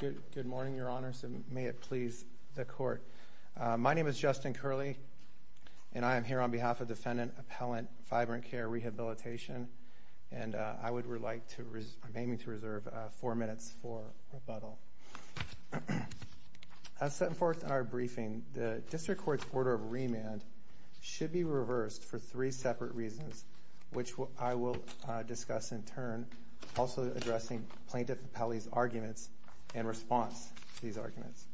Good morning, Your Honors, and may it please the Court. My name is Justin Curley, and I am here on behalf of Defendant Appellant VibrantCare Rehabilitation, and I would like to remain to reserve four minutes for rebuttal. As set forth in our briefing, the District Court's order of remand should be reversed for three separate reasons, which I will discuss in turn, also addressing Plaintiff Appellee's arguments in response to these arguments.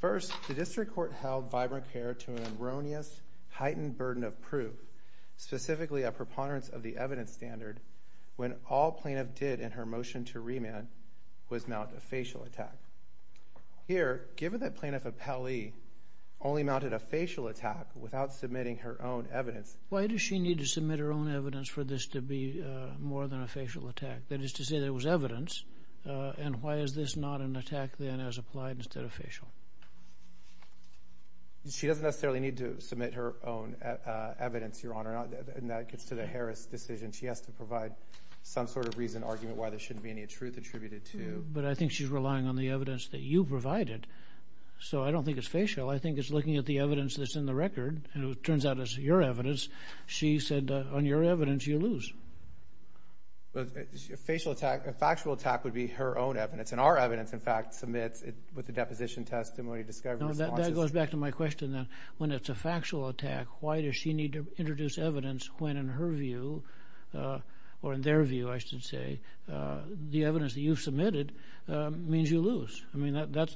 First, the District Court held VibrantCare to an erroneous, heightened burden of proof, specifically a preponderance of the evidence standard, when all Plaintiff did in her motion to remand was mount a facial attack. Here, given that Plaintiff Appellee only mounted a facial attack without submitting her own evidence... Why does she need to submit her own evidence for this to be more than a facial attack? That is to say, there was evidence, and why is this not an attack then as applied instead of facial? She doesn't necessarily need to submit her own evidence, Your Honor, and that gets to the Harris decision. She has to provide some sort of reason, argument why there shouldn't be any truth attributed to... But I think she's relying on the evidence that you provided, so I don't think it's facial. I think it's looking at the evidence that's in the record, and it turns out it's your evidence. She said, on your evidence, you lose. A facial attack, a factual attack would be her own evidence, and our evidence, in fact, submits with the deposition testimony, discovery responses... No, that goes back to my question then. When it's a factual attack, why does she need to introduce evidence when, in her view, or in their view, I should say, the evidence that you've submitted means you lose?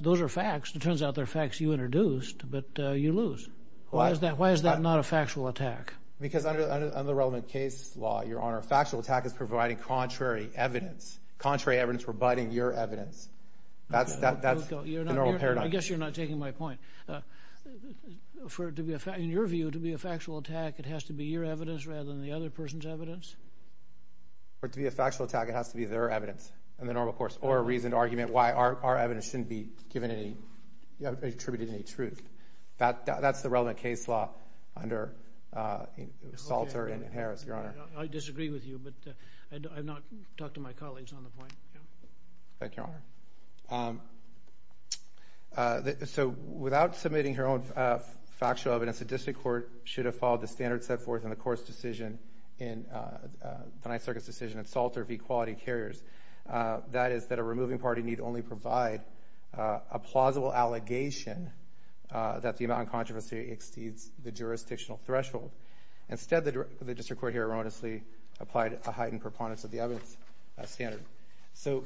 Those are facts. It turns out they're facts you introduced, but you lose. Why is that not a factual attack? Because under relevant case law, Your Honor, a factual attack is providing contrary evidence. Contrary evidence providing your evidence. That's the normal paradigm. I guess you're not taking my point. In your view, to be a factual attack, it has to be your evidence rather than the other person's evidence? To be a factual attack, it has to be their evidence, in the normal course, or a reasoned argument why our evidence shouldn't be given any... attributed any truth. That's the relevant case law under Salter and Harris, Your Honor. I disagree with you, but I've not talked to my colleagues on the point, yeah. Thank you, Your Honor. So without submitting her own factual evidence, a district court should have followed the court's decision in... the Ninth Circuit's decision in Salter v. Quality Carriers. That is, that a removing party need only provide a plausible allegation that the amount of controversy exceeds the jurisdictional threshold. Instead, the district court here erroneously applied a heightened preponderance of the evidence standard. So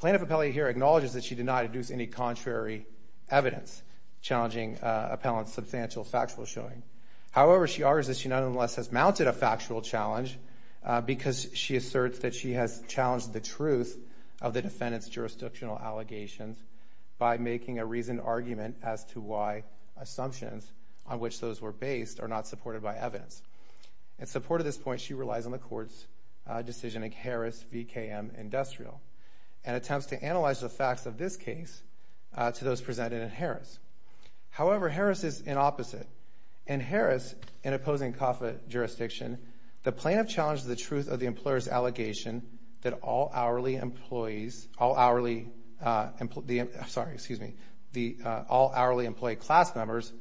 plaintiff appellee here acknowledges that she did not introduce any contrary evidence challenging appellant's substantial factual showing. However, she argues that she nonetheless has mounted a factual challenge because she asserts that she has challenged the truth of the defendant's jurisdictional allegations by making a reasoned argument as to why assumptions on which those were based are not supported by evidence. In support of this point, she relies on the court's decision in Harris v. KM Industrial and attempts to analyze the facts of this case to those presented in Harris. However, Harris is in opposite. In Harris, in opposing CAFA jurisdiction, the plaintiff challenged the truth of the employer's allegation that all hourly employees... all hourly... I'm sorry, excuse me. The all hourly employee class members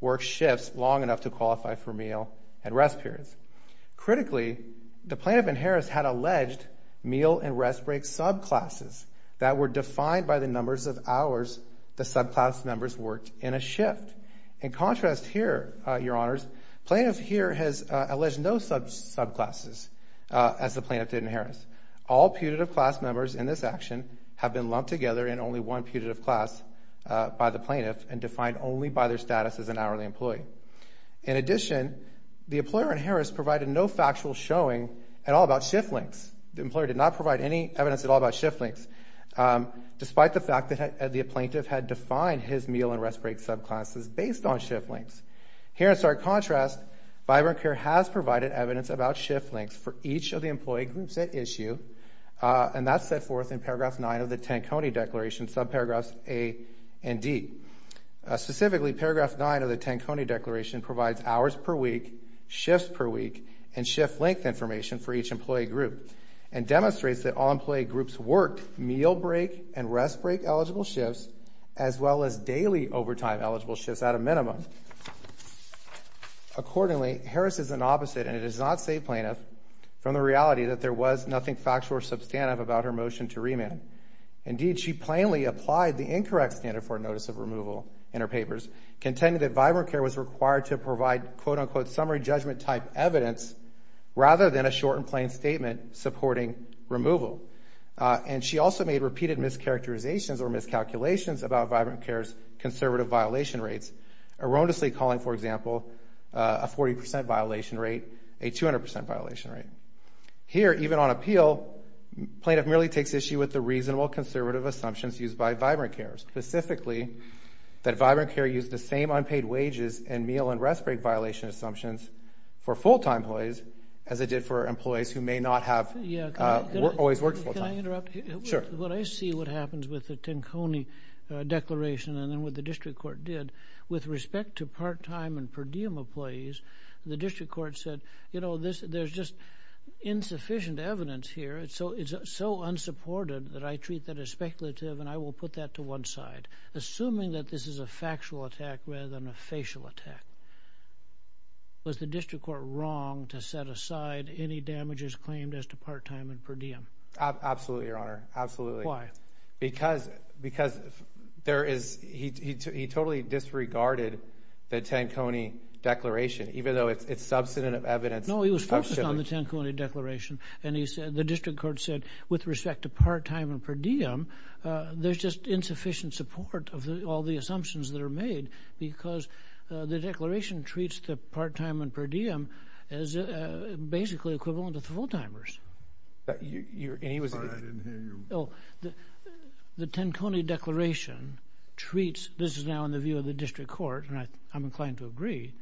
work shifts long enough to qualify for meal and rest periods. Critically, the plaintiff in Harris had alleged meal and rest break subclasses that were defined by the numbers of hours the subclass members worked in a shift. In contrast here, your honors, plaintiff here has alleged no subclasses as the plaintiff did in Harris. All putative class members in this action have been lumped together in only one putative class by the plaintiff and defined only by their status as an hourly employee. In addition, the employer in Harris provided no factual showing at all about shift lengths. The employer did not provide any evidence at all about shift lengths, despite the fact that the plaintiff had defined his meal and rest break subclasses based on shift lengths. Here in stark contrast, Vibrant Care has provided evidence about shift lengths for each of the employee groups at issue, and that's set forth in paragraph 9 of the Tanconi Declaration, subparagraphs A and D. Specifically, paragraph 9 of the Tanconi Declaration provides hours per week, shifts per week, and shift length information for each employee group, and demonstrates that all employee groups worked meal break and rest break eligible shifts, as well as daily overtime eligible shifts at a minimum. Accordingly, Harris is an opposite, and it is not safe, plaintiff, from the reality that there was nothing factual or substantive about her motion to remand. Indeed, she plainly applied the incorrect standard for notice of removal in her papers, contending that Vibrant Care was required to provide, quote unquote, summary judgment type evidence, rather than a short and plain statement supporting removal. And she also made repeated mischaracterizations or miscalculations about Vibrant Care's conservative violation rates, erroneously calling, for example, a 40% violation rate a 200% violation rate. Here, even on appeal, plaintiff merely takes issue with the reasonable conservative assumptions used by Vibrant Care, specifically that Vibrant Care used the same unpaid wages and meal and rest break violation assumptions for full-time employees, as it did for employees who may not have always worked full-time. Can I interrupt? Sure. When I see what happens with the Tanconi Declaration, and then with what the District Court did, with respect to part-time and per diem employees, the District Court said, you know, there's just insufficient evidence here. It's so unsupported that I treat that as speculative, and I will put that to one side. Assuming that this is a factual attack rather than a facial attack, was the District Court wrong to set aside any damages claimed as to part-time and per diem? Absolutely, Your Honor. Absolutely. Why? Because there is, he totally disregarded the Tanconi Declaration, even though it's substantive evidence. No, he was focused on the Tanconi Declaration. And he said, the District Court said, with respect to part-time and per diem, there's just insufficient support of all the assumptions that are made, because the Declaration treats the part-time and per diem as basically equivalent to the full-timers. Your aim is... I didn't hear you. Oh, the Tanconi Declaration treats, this is now in the view of the District Court, and I'm inclined to agree,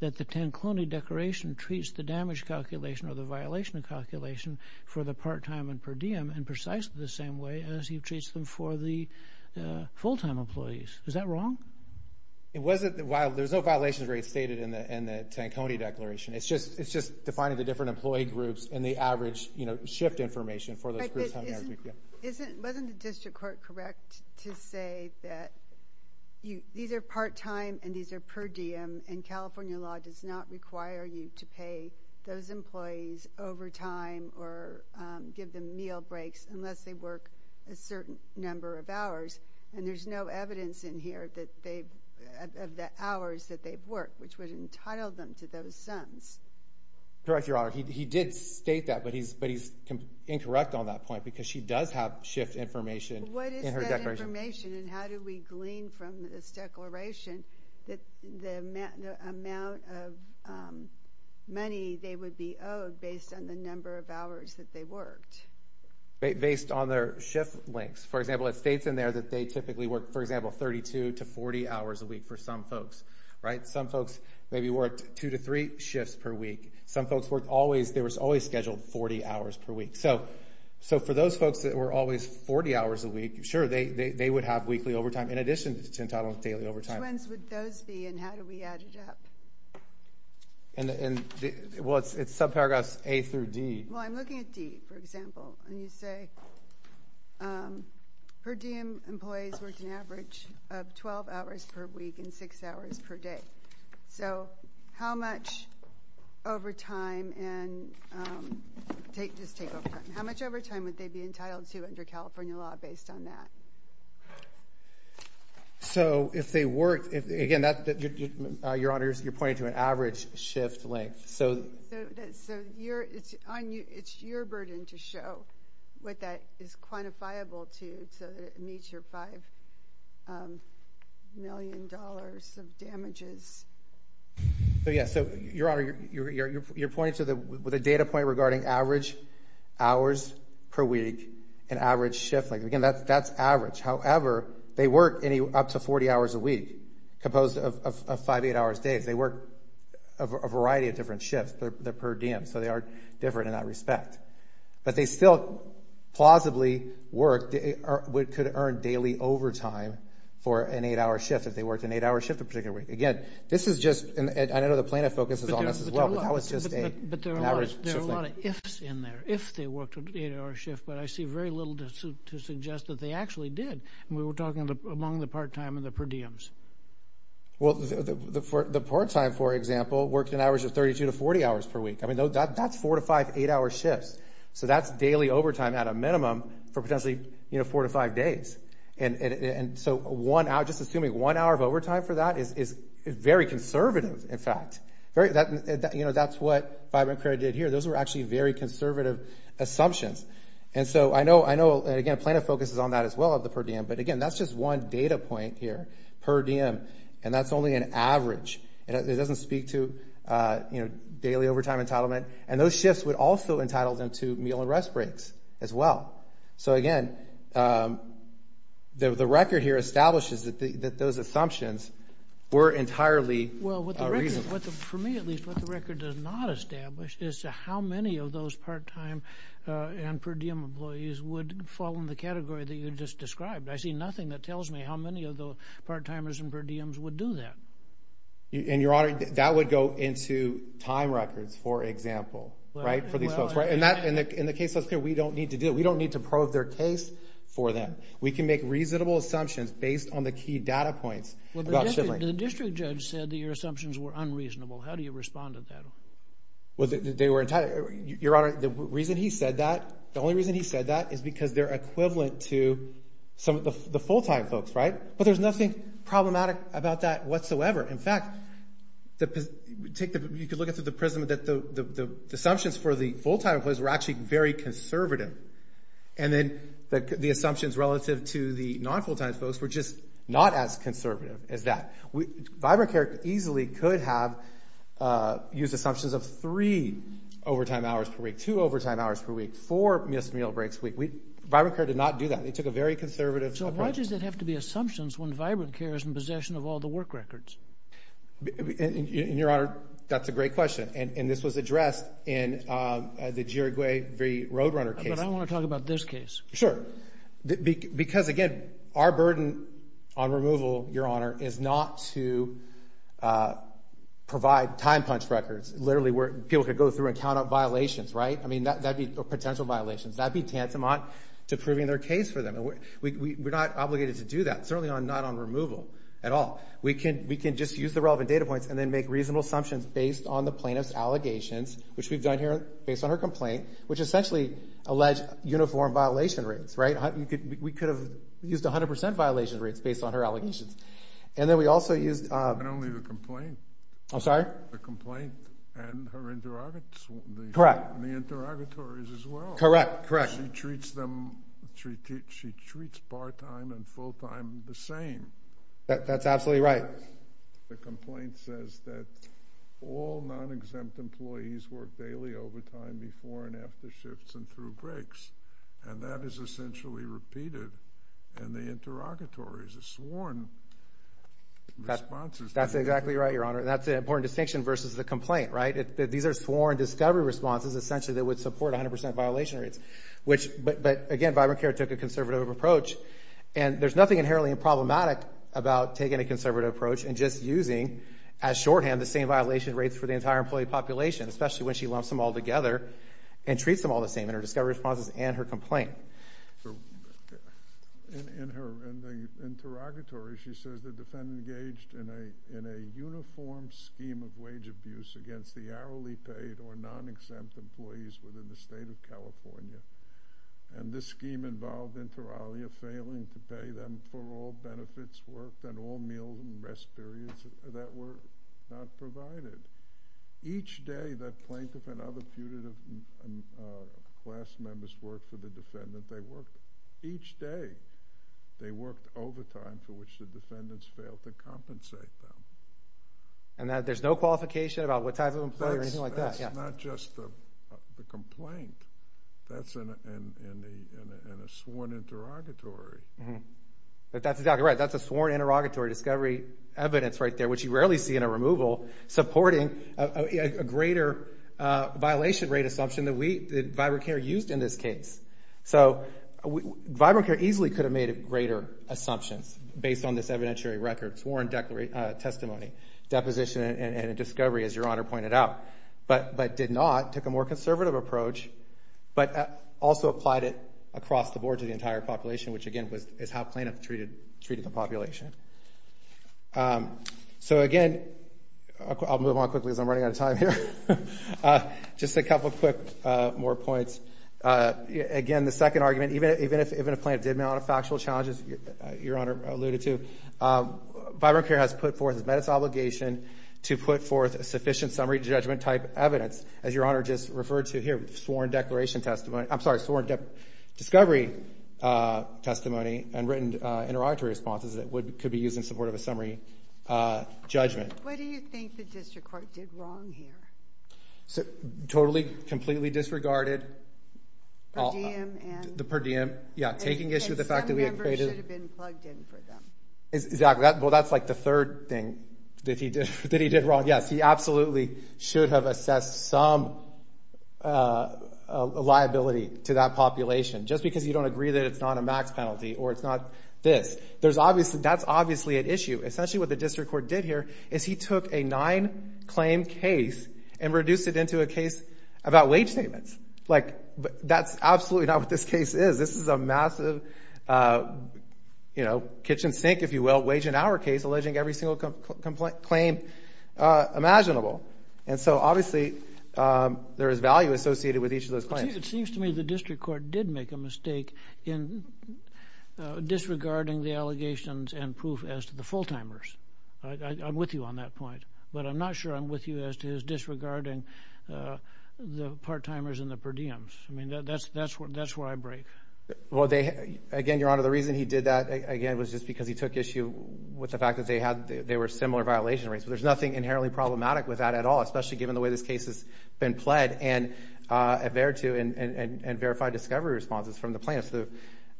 that the Tanconi Declaration treats the damage calculation or the violation calculation for the part-time and per diem in precisely the same way as he treats them for the full-time employees. Is that wrong? It wasn't, while, there's no violations rates stated in the Tanconi Declaration. It's just, it's just defining the different employee groups and the average, you know, shift information for those groups. Isn't, wasn't the District Court correct to say that these are part-time and these are per diem, and California law does not require you to pay those employees overtime or give them meal breaks unless they work a certain number of hours, and there's no evidence in here that they, of the hours that they've worked, which would entitle them to those sums. Correct, Your Honor. He did state that, but he's, but he's incorrect on that point, because she does have shift information in her Declaration. Shift information, and how do we glean from this Declaration that the amount of money they would be owed based on the number of hours that they worked? Based on their shift lengths. For example, it states in there that they typically work, for example, 32 to 40 hours a week for some folks, right? Some folks maybe worked two to three shifts per week. So, so for those folks that were always 40 hours a week, sure, they, they, they would have weekly overtime in addition to entitlement of daily overtime. Which ones would those be, and how do we add it up? And the, and the, well, it's, it's subparagraphs A through D. Well, I'm looking at D, for example, and you say per diem, employees worked an average of 12 hours per week and 6 hours per day. So how much overtime and, take, just take overtime, how much overtime would they be entitled to under California law based on that? So if they worked, if, again, that, your Honor, you're pointing to an average shift length, so. So, so your, it's on you, it's your burden to show what that is quantifiable to, so that it meets your 5 million dollars of damages. So, yeah, so, your Honor, you're, you're, you're pointing to the, with a data point regarding average hours per week and average shift length, again, that's, that's average. However, they work any, up to 40 hours a week, composed of, of, of 5-8 hours a day. If they work a variety of different shifts, they're, they're per diem, so they are different in that respect. But they still, plausibly, work, what could earn daily overtime for an 8-hour shift, if they worked an 8-hour shift a particular week. Again, this is just, and I know the plaintiff focuses on this as well, but that was just a, an average shift length. But there are a lot of, there are a lot of ifs in there, if they worked an 8-hour shift, but I see very little to, to suggest that they actually did. And we were talking among the part-time and the per diems. Well, the, the, the part-time, for example, worked an average of 32 to 40 hours per week. I mean, that, that's 4 to 5, 8-hour shifts. So that's daily overtime at a minimum, for potentially, you know, 4 to 5 days. And so, one hour, just assuming one hour of overtime for that is, is very conservative, in fact. Very, that, you know, that's what Fibonacria did here. Those were actually very conservative assumptions. And so, I know, I know, and again, plaintiff focuses on that as well, of the per diem. But again, that's just one data point here, per diem, and that's only an average. It doesn't speak to, you know, daily overtime entitlement. And those shifts would also entitle them to meal and rest breaks as well. So again, the, the record here establishes that the, that those assumptions were entirely reasonable. Well, what the record, for me at least, what the record does not establish is how many of those part-time and per diem employees would fall in the category that you just described. I see nothing that tells me how many of the part-timers and per diems would do that. And Your Honor, that would go into time records, for example, right, for these folks, right? And that, in the, in the case of us here, we don't need to do it. We don't need to prove their case for them. We can make reasonable assumptions based on the key data points about shipping. Well, the district, the district judge said that your assumptions were unreasonable. How do you respond to that? Well, they were entirely, Your Honor, the reason he said that, the only reason he said that is because they're equivalent to some of the, the full-time folks, right? But there's nothing problematic about that whatsoever. In fact, the, take the, you could look at it through the prism that the, the, the assumptions for the full-time employees were actually very conservative. And then the, the assumptions relative to the non-full-time folks were just not as conservative as that. We, ViberCare easily could have used assumptions of three overtime hours per week, two overtime hours per week, four missed meal breaks per week. We, ViberCare did not do that. They took a very conservative approach. So why does it have to be assumptions when ViberCare is in possession of all the work records? And, and, and, Your Honor, that's a great question. And this was addressed in the Giroguet v. Roadrunner case. But I want to talk about this case. Sure. Because, again, our burden on removal, Your Honor, is not to provide time-punched records, literally where people could go through and count up violations, right? I mean, that, that'd be potential violations, that'd be tantamount to proving their case for them. And we, we, we're not obligated to do that, certainly on, not on removal at all. We can, we can just use the relevant data points and then make reasonable assumptions based on the plaintiff's allegations, which we've done here based on her complaint, which essentially alleged uniform violation rates, right? We could, we could have used 100% violation rates based on her allegations. And then we also used... And only the complaint. The complaint and her interrogates. Correct. And the interrogations. And the interrogatories as well. Correct. Correct. She treats them, she treats part-time and full-time the same. That's absolutely right. The complaint says that all non-exempt employees work daily overtime before and after shifts and through breaks. And that is essentially repeated in the interrogatories, the sworn responses. That's exactly right, Your Honor. That's an important distinction versus the complaint, right? These are sworn discovery responses, essentially, that would support 100% violation rates, which... But again, Vibrant Care took a conservative approach. And there's nothing inherently problematic about taking a conservative approach and just using as shorthand the same violation rates for the entire employee population, especially when she lumps them all together and treats them all the same in her discovery responses and her complaint. In her, in the interrogatory, she says the defendant engaged in a, in a uniform scheme of wage abuse against the hourly paid or non-exempt employees within the state of California. And this scheme involved Interaglia failing to pay them for all benefits worked and all meals and rest periods that were not provided. Each day that plaintiff and other putative class members worked for the defendant, they worked each day. They worked overtime for which the defendants failed to compensate them. And that, there's no qualification about what type of employee or anything like that, yeah. That's not just the complaint, that's in a, in a, in a sworn interrogatory. But that's exactly right, that's a sworn interrogatory discovery evidence right there, which you rarely see in a removal, supporting a greater violation rate assumption that we, that Vibrant Care used in this case. So Vibrant Care easily could have made greater assumptions based on this evidentiary record, sworn testimony, deposition, and a discovery, as Your Honor pointed out, but did not, took a more conservative approach, but also applied it across the board to the entire population, which again was, is how plaintiff treated, treated the population. So again, I'll move on quickly as I'm running out of time here. Just a couple quick more points. Again the second argument, even if, even if a plaintiff did mount factual challenges, as Your Honor alluded to, Vibrant Care has put forth, has met its obligation to put forth a sufficient summary judgment type evidence, as Your Honor just referred to here, sworn declaration testimony, I'm sorry, sworn discovery testimony and written interrogatory responses that would, could be used in support of a summary judgment. What do you think the district court did wrong here? So totally, completely disregarded the per diem, yeah, taking issue with the fact that the members should have been plugged in for them. Exactly, well that's like the third thing that he did, that he did wrong, yes, he absolutely should have assessed some liability to that population. Just because you don't agree that it's not a max penalty or it's not this, there's obviously, that's obviously an issue. Essentially what the district court did here is he took a nine claim case and reduced it into a case about wage statements. Like that's absolutely not what this case is. This is a massive, you know, kitchen sink, if you will, wage and hour case alleging every single complaint, claim imaginable. And so obviously there is value associated with each of those claims. It seems to me the district court did make a mistake in disregarding the allegations and proof as to the full timers. I'm with you on that point, but I'm not sure I'm with you as to his disregarding the part timers and the per diems. I mean, that's where I break. Well, again, Your Honor, the reason he did that, again, was just because he took issue with the fact that they had, they were similar violation rates. But there's nothing inherently problematic with that at all, especially given the way this case has been pled and avert to and verified discovery responses from the plaintiffs.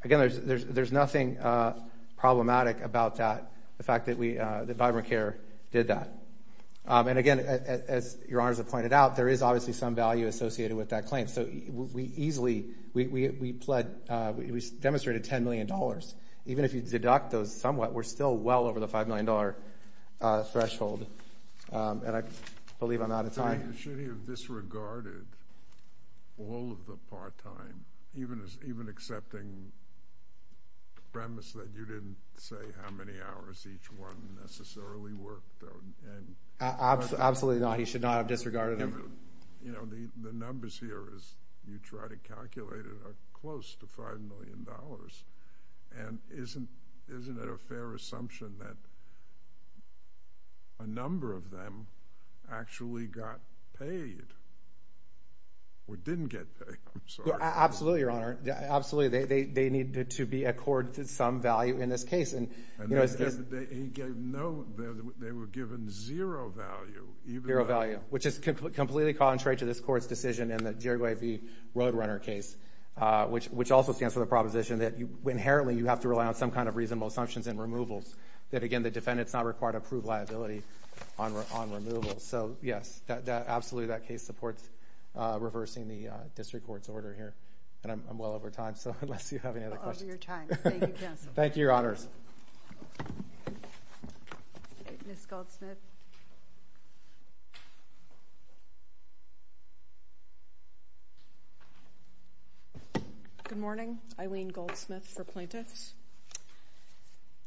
Again, there's nothing problematic about that, the fact that we, that Vibrant Care did that. And again, as Your Honors have pointed out, there is obviously some value associated with that claim. So we easily, we pled, we demonstrated $10 million. Even if you deduct those somewhat, we're still well over the $5 million threshold, and I believe I'm out of time. I mean, should he have disregarded all of the part time, even accepting the premise that you didn't say how many hours each one necessarily worked or, and... Absolutely not. He should not have disregarded them. But, you know, the numbers here, as you try to calculate it, are close to $5 million. And isn't it a fair assumption that a number of them actually got paid, or didn't get paid? I'm sorry. Absolutely, Your Honor. Absolutely. They needed to be accorded some value in this case. And they gave no, they were given zero value, even though... Zero value. Zero value. Which is completely contrary to this Court's decision in the Jirigawi v. Roadrunner case, which also stands for the proposition that you inherently, you have to rely on some kind of reasonable assumptions and removals, that again, the defendant's not required to prove liability on removal. So yes, absolutely, that case supports reversing the District Court's order here, and I'm well over time, so unless you have any other questions... We're over your time. Thank you, Counselor. Thank you, Your Honors. Ms. Goldsmith. Good morning, Eileen Goldsmith for plaintiffs.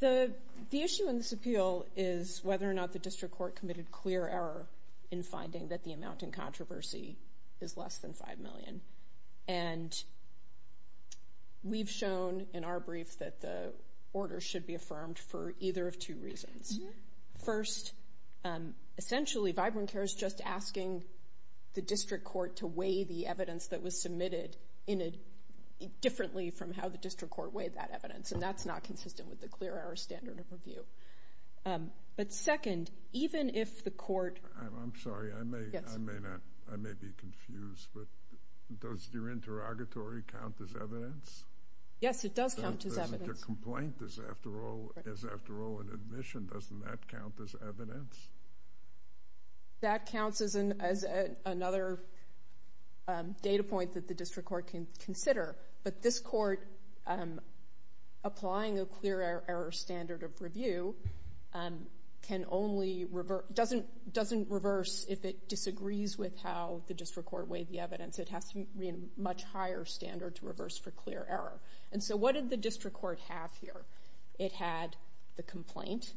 The issue in this appeal is whether or not the District Court committed clear error in finding that the amount in controversy is less than $5 million. And we've shown in our brief that the order should be affirmed for either of two reasons. First, essentially, VibronCare is just asking the District Court to weigh the evidence that was submitted differently from how the District Court weighed that evidence, and that's not consistent with the clear error standard of review. But second, even if the Court... I'm sorry, I may be confused, but does your interrogatory count as evidence? Yes, it does count as evidence. But your complaint is, after all, an admission, doesn't that count as evidence? That counts as another data point that the District Court can consider. But this Court, applying a clear error standard of review, doesn't reverse if it disagrees with how the District Court weighed the evidence. It has to be a much higher standard to reverse for clear error. And so what did the District Court have here? It had the complaint.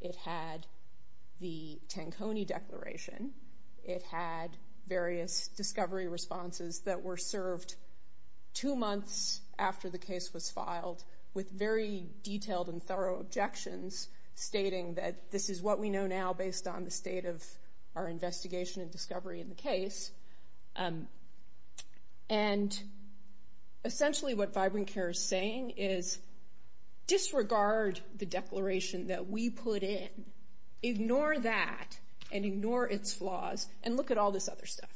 It had the Tanconi declaration. It had various discovery responses that were served two months after the case was filed with very detailed and thorough objections stating that this is what we know now based on our experience. And essentially what Vibrant Care is saying is, disregard the declaration that we put in. Ignore that and ignore its flaws and look at all this other stuff.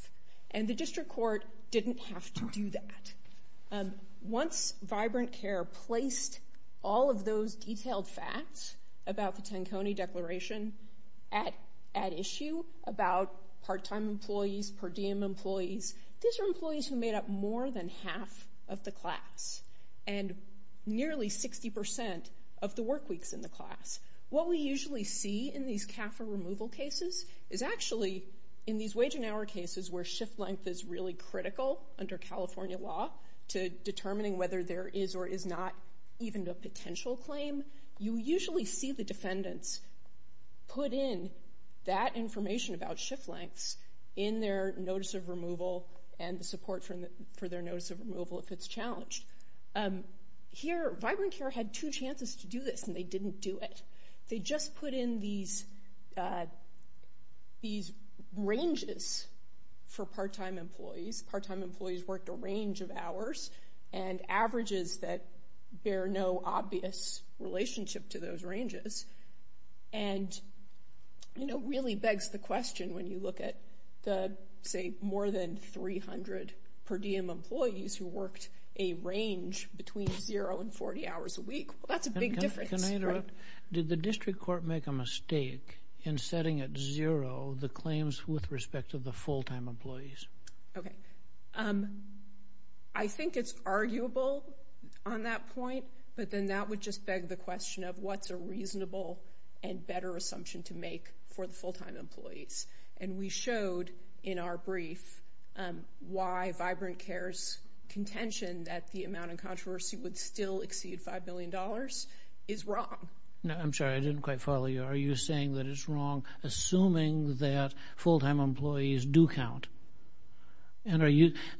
And the District Court didn't have to do that. Once Vibrant Care placed all of those detailed facts about the Tanconi declaration at issue about part-time employees, per diem employees, these are employees who made up more than half of the class and nearly 60% of the work weeks in the class. What we usually see in these CAFA removal cases is actually in these wage and hour cases where shift length is really critical under California law to determining whether there is or is not even a potential claim. You usually see the defendants put in that information about shift lengths in their notice of removal and the support for their notice of removal if it's challenged. Here Vibrant Care had two chances to do this and they didn't do it. They just put in these ranges for part-time employees. These part-time employees worked a range of hours and averages that bear no obvious relationship to those ranges. And it really begs the question when you look at the, say, more than 300 per diem employees who worked a range between zero and 40 hours a week. That's a big difference. Can I interrupt? Did the District Court make a mistake in setting at zero the claims with respect to the full-time employees? Okay. I think it's arguable on that point, but then that would just beg the question of what's a reasonable and better assumption to make for the full-time employees. And we showed in our brief why Vibrant Care's contention that the amount of controversy would still exceed $5 billion is wrong. I'm sorry. I didn't quite follow you. Are you saying that it's wrong assuming that full-time employees do count?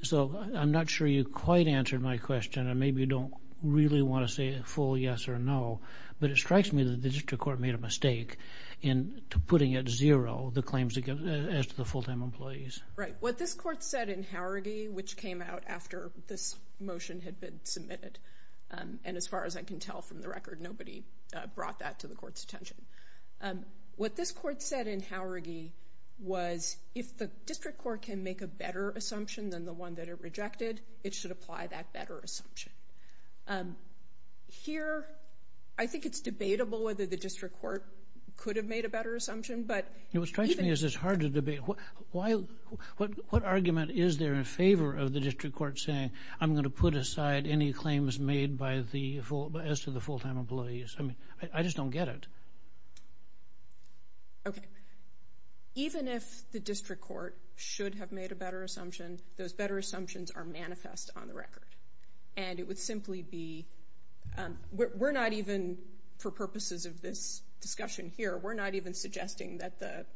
So I'm not sure you quite answered my question and maybe you don't really want to say a full yes or no, but it strikes me that the District Court made a mistake in putting at zero the claims as to the full-time employees. Right. What this Court said in Haurigee, which came out after this motion had been submitted, and as far as I can tell from the record, nobody brought that to the Court's attention. What this Court said in Haurigee was if the District Court can make a better assumption than the one that it rejected, it should apply that better assumption. Here I think it's debatable whether the District Court could have made a better assumption, but even— You know, what strikes me is it's hard to debate. What argument is there in favor of the District Court saying, I'm going to put aside any claims made as to the full-time employees? I mean, I just don't get it. Okay. Even if the District Court should have made a better assumption, those better assumptions are manifest on the record. And it would simply be—we're not even, for purposes of this discussion here, we're not even suggesting that the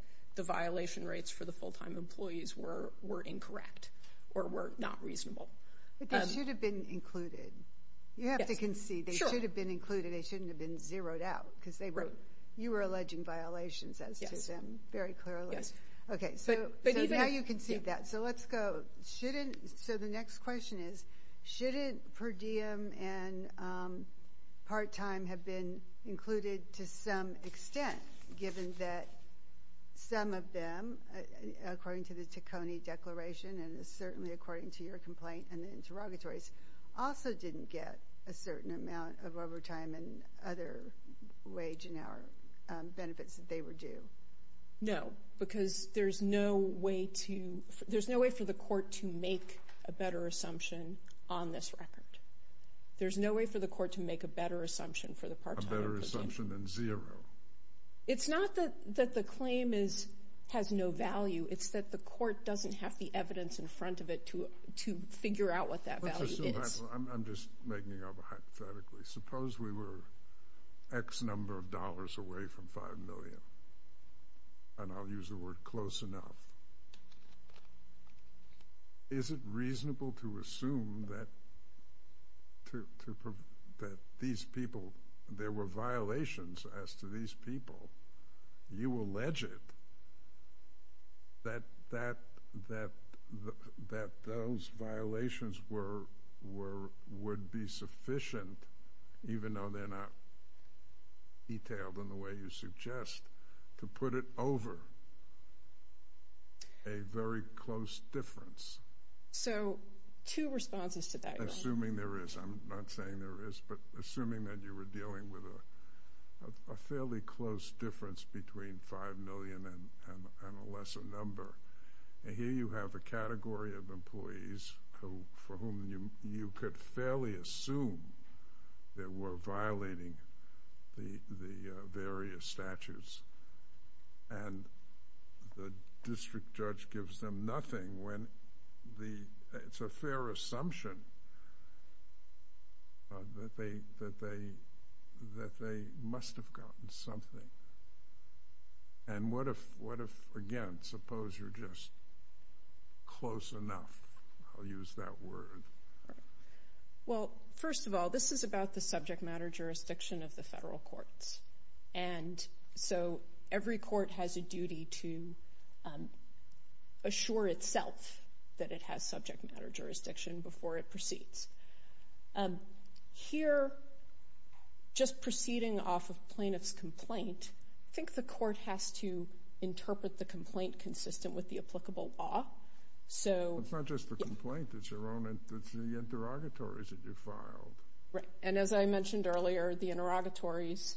violation rates for the full-time employees were incorrect or were not reasonable. But they should have been included. Yes. You have to concede. Sure. They should have been included. They shouldn't have been zeroed out. Because they were—you were alleging violations as to them very clearly. Yes. Okay. So now you concede that. So let's go. Shouldn't—so the next question is, shouldn't per diem and part-time have been included to some extent, given that some of them, according to the Ticconi Declaration and certainly according to your complaint and the interrogatories, also didn't get a certain amount of overtime and other wage and hour benefits that they were due? No. Because there's no way to—there's no way for the Court to make a better assumption on this record. There's no way for the Court to make a better assumption for the part-time employees. A better assumption than zero. It's not that the claim is—has no value. It's that the Court doesn't have the evidence in front of it to figure out what that value is. I'm just making it up hypothetically. Suppose we were X number of dollars away from $5 million, and I'll use the word close enough. Is it reasonable to assume that these people—there were violations as to these people? You allege it, that those violations would be sufficient, even though they're not detailed in the way you suggest, to put it over a very close difference? So two responses to that, Your Honor. Assuming there is. I'm not saying there is, but assuming that you were dealing with a fairly close difference between $5 million and a lesser number, and here you have a category of employees for whom you could fairly assume they were violating the various statutes, and the district judge gives them nothing when the—it's a fair assumption that they must have gotten something. And what if, again, suppose you're just close enough? I'll use that word. Well, first of all, this is about the subject matter jurisdiction of the federal courts. And so every court has a duty to assure itself that it has subject matter jurisdiction before it proceeds. Here, just proceeding off of plaintiff's complaint, I think the court has to interpret the complaint consistent with the applicable law. So— It's not just the complaint. It's your own—it's the interrogatories that you filed. Right. And as I mentioned earlier, the interrogatories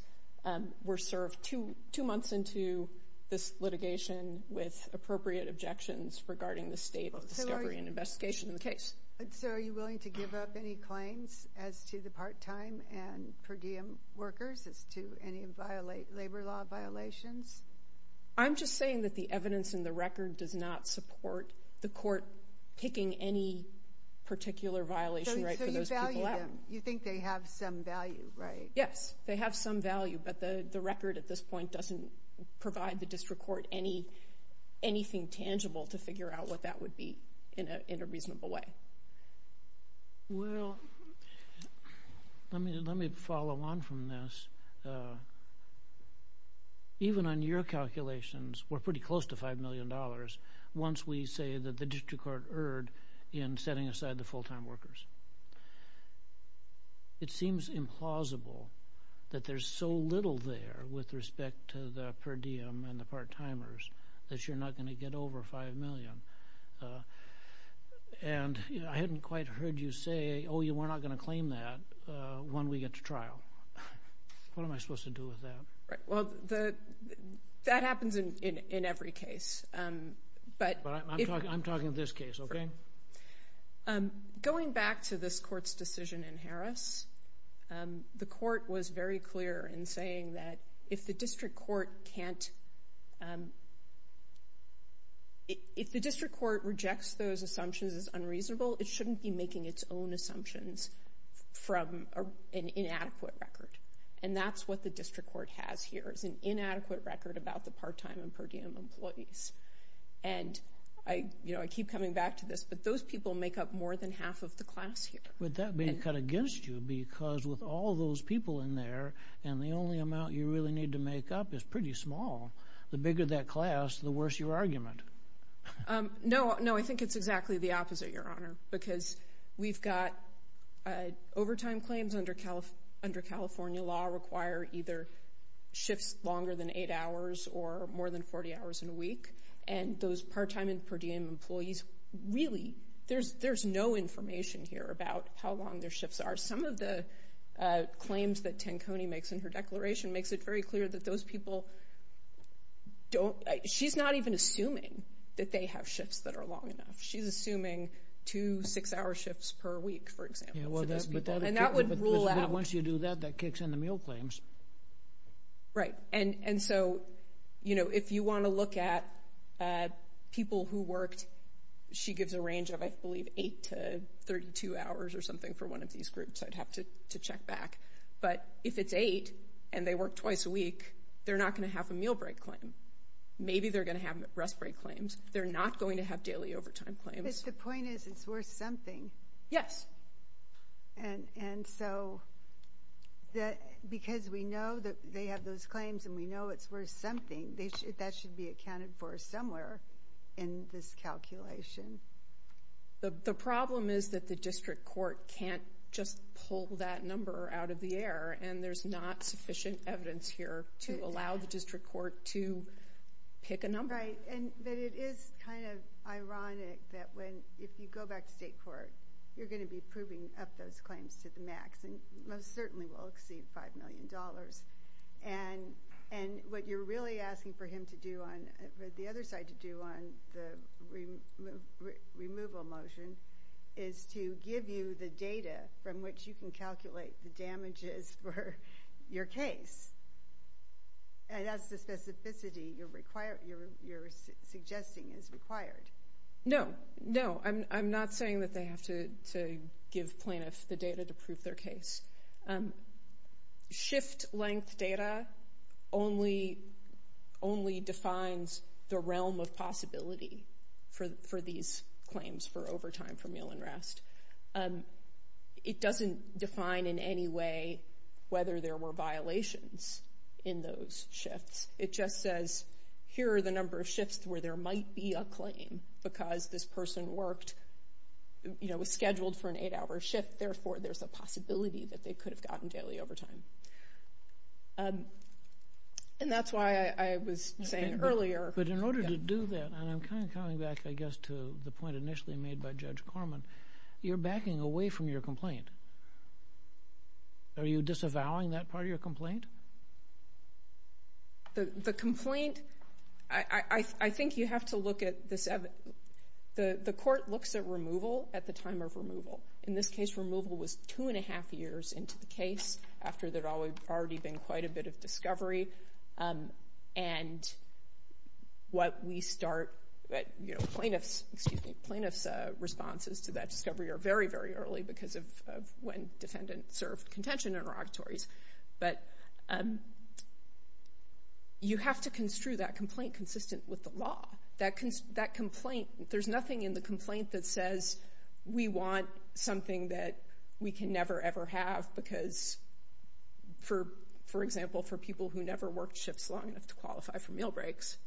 were served two months into this litigation with appropriate objections regarding the state of discovery and investigation in the case. So are you willing to give up any claims as to the part-time and per diem workers as to any labor law violations? I'm just saying that the evidence in the record does not support the court picking any particular violation right for those people out. You think they have some value, right? Yes. They have some value. But the record at this point doesn't provide the district court anything tangible to figure out what that would be in a reasonable way. Well, let me follow on from this. Even on your calculations, we're pretty close to $5 million once we say that the district court erred in setting aside the full-time workers. It seems implausible that there's so little there with respect to the per diem and the part-timers that you're not going to get over $5 million. And I hadn't quite heard you say, oh, we're not going to claim that when we get to trial. What am I supposed to do with that? Right. Well, that happens in every case. But I'm talking of this case, okay? Going back to this court's decision in Harris, the court was very clear in saying that if the district court rejects those assumptions as unreasonable, it shouldn't be making its own assumptions from an inadequate record. And that's what the district court has here, is an inadequate record about the part-time and per diem employees. And I keep coming back to this, but those people make up more than half of the class here. Would that be cut against you? Because with all those people in there, and the only amount you really need to make up is pretty small, the bigger that class, the worse your argument. No, I think it's exactly the opposite, Your Honor. Because we've got overtime claims under California law require either shifts longer than eight hours or more than 40 hours in a week. And those part-time and per diem employees really, there's no information here about how long their shifts are. Some of the claims that Tanconi makes in her declaration makes it very clear that those people don't, she's not even assuming that they have shifts that are long enough. She's assuming two six-hour shifts per week, for example, for those people. And that would rule out. But once you do that, that kicks in the meal claims. Right. And so, you know, if you want to look at people who worked, she gives a range of, I believe, eight to 32 hours or something for one of these groups. I'd have to check back. But if it's eight, and they work twice a week, they're not going to have a meal break claim. Maybe they're going to have rest break claims. They're not going to have daily overtime claims. But the point is, it's worth something. Yes. And so, because we know that they have those claims, and we know it's worth something, that should be accounted for somewhere in this calculation. The problem is that the district court can't just pull that number out of the air. And there's not sufficient evidence here to allow the district court to pick a number. Right. And that it is kind of ironic that when, if you go back to state court, you're going to be proving up those claims to the max, and most certainly will exceed $5 million. And what you're really asking for him to do on, the other side to do on the removal motion is to give you the data from which you can calculate the damages for your case. And that's the specificity you're suggesting is required. No. No. I'm not saying that they have to give plaintiffs the data to prove their case. Shift length data only defines the realm of possibility for these claims for overtime for meal and rest. It doesn't define in any way whether there were violations in those shifts. It just says, here are the number of shifts where there might be a claim because this person worked, you know, was scheduled for an eight-hour shift, therefore there's a possibility that they could have gotten daily overtime. And that's why I was saying earlier. But in order to do that, and I'm kind of coming back, I guess, to the point initially made by Judge Corman, you're backing away from your complaint. Are you disavowing that part of your complaint? The complaint, I think you have to look at this, the court looks at removal at the time of removal. In this case, removal was two and a half years into the case after there had already been quite a bit of discovery. And what we start, you know, plaintiff's, excuse me, plaintiff's responses to that discovery are very, very early because of when defendants served contention interrogatories. But you have to construe that complaint consistent with the law. That complaint, there's nothing in the complaint that says we want something that we can never ever have because, for example, for people who never worked shifts long enough to qualify for meal breaks,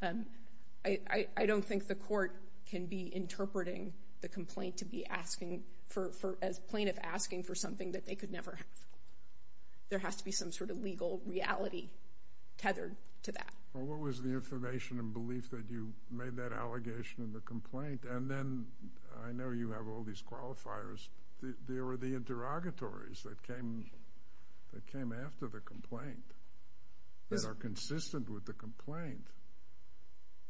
I don't think the court can be interpreting the complaint to be asking for, as plaintiff, asking for something that they could never have. There has to be some sort of legal reality tethered to that. Well, what was the information and belief that you made that allegation in the complaint? And then, I know you have all these qualifiers, there were the interrogatories that came after the complaint that are consistent with the complaint.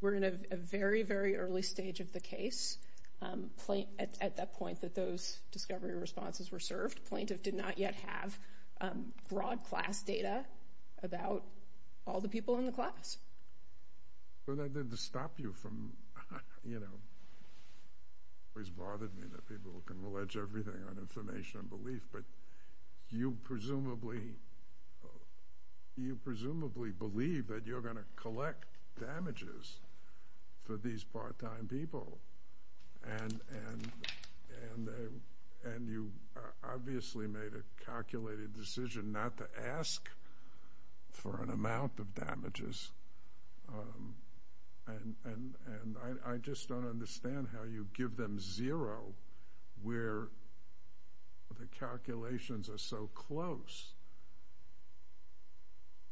We're in a very, very early stage of the case. At that point that those discovery responses were served, plaintiff did not yet have broad class data about all the people in the class. Well, that didn't stop you from, you know, it always bothered me that people can allege everything on information and belief, but you presumably, you presumably believe that you're going to collect damages for these part-time people and you obviously made a And I just don't understand how you give them zero, where the calculations are so close.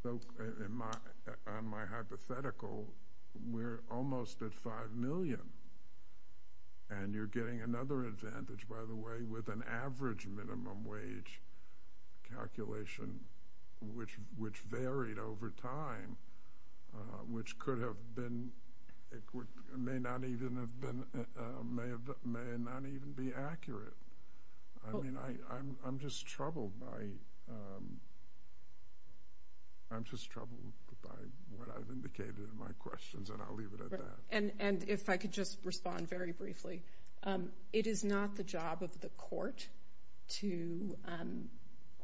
So, in my, on my hypothetical, we're almost at five million, and you're getting another advantage, by the way, with an average minimum wage calculation, which varied over time, which could have been, may not even have been, may not even be accurate. I mean, I'm just troubled by, I'm just troubled by what I've indicated in my questions and I'll leave it at that. And if I could just respond very briefly. It is not the job of the court to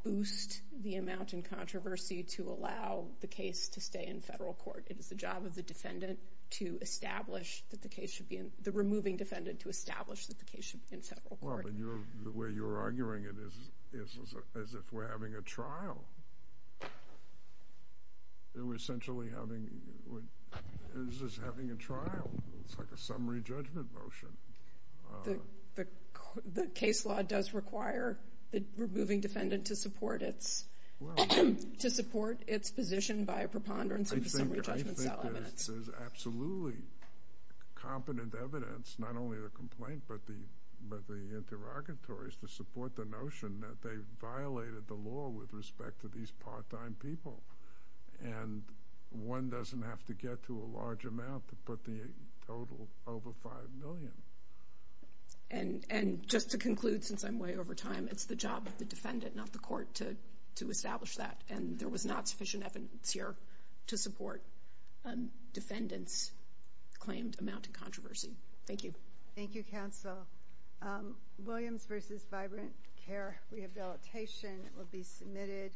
boost the amount in controversy to allow the case to stay in federal court. It is the job of the defendant to establish that the case should be in, the removing defendant to establish that the case should be in federal court. Well, but you're, the way you're arguing it is as if we're having a trial. We're essentially having, it's just having a trial. It's like a summary judgment motion. The case law does require the removing defendant to support its, to support its position by a preponderance of the summary judgment. I think there's absolutely competent evidence, not only the complaint, but the interrogatories to support the notion that they violated the law with respect to these part-time people. And one doesn't have to get to a large amount to put the total over 5 million. And, and just to conclude, since I'm way over time, it's the job of the defendant, not the court, to, to establish that. And there was not sufficient evidence here to support defendants' claimed amount in controversy. Thank you. Thank you, counsel. Williams v. Vibrant Care Rehabilitation will be submitted.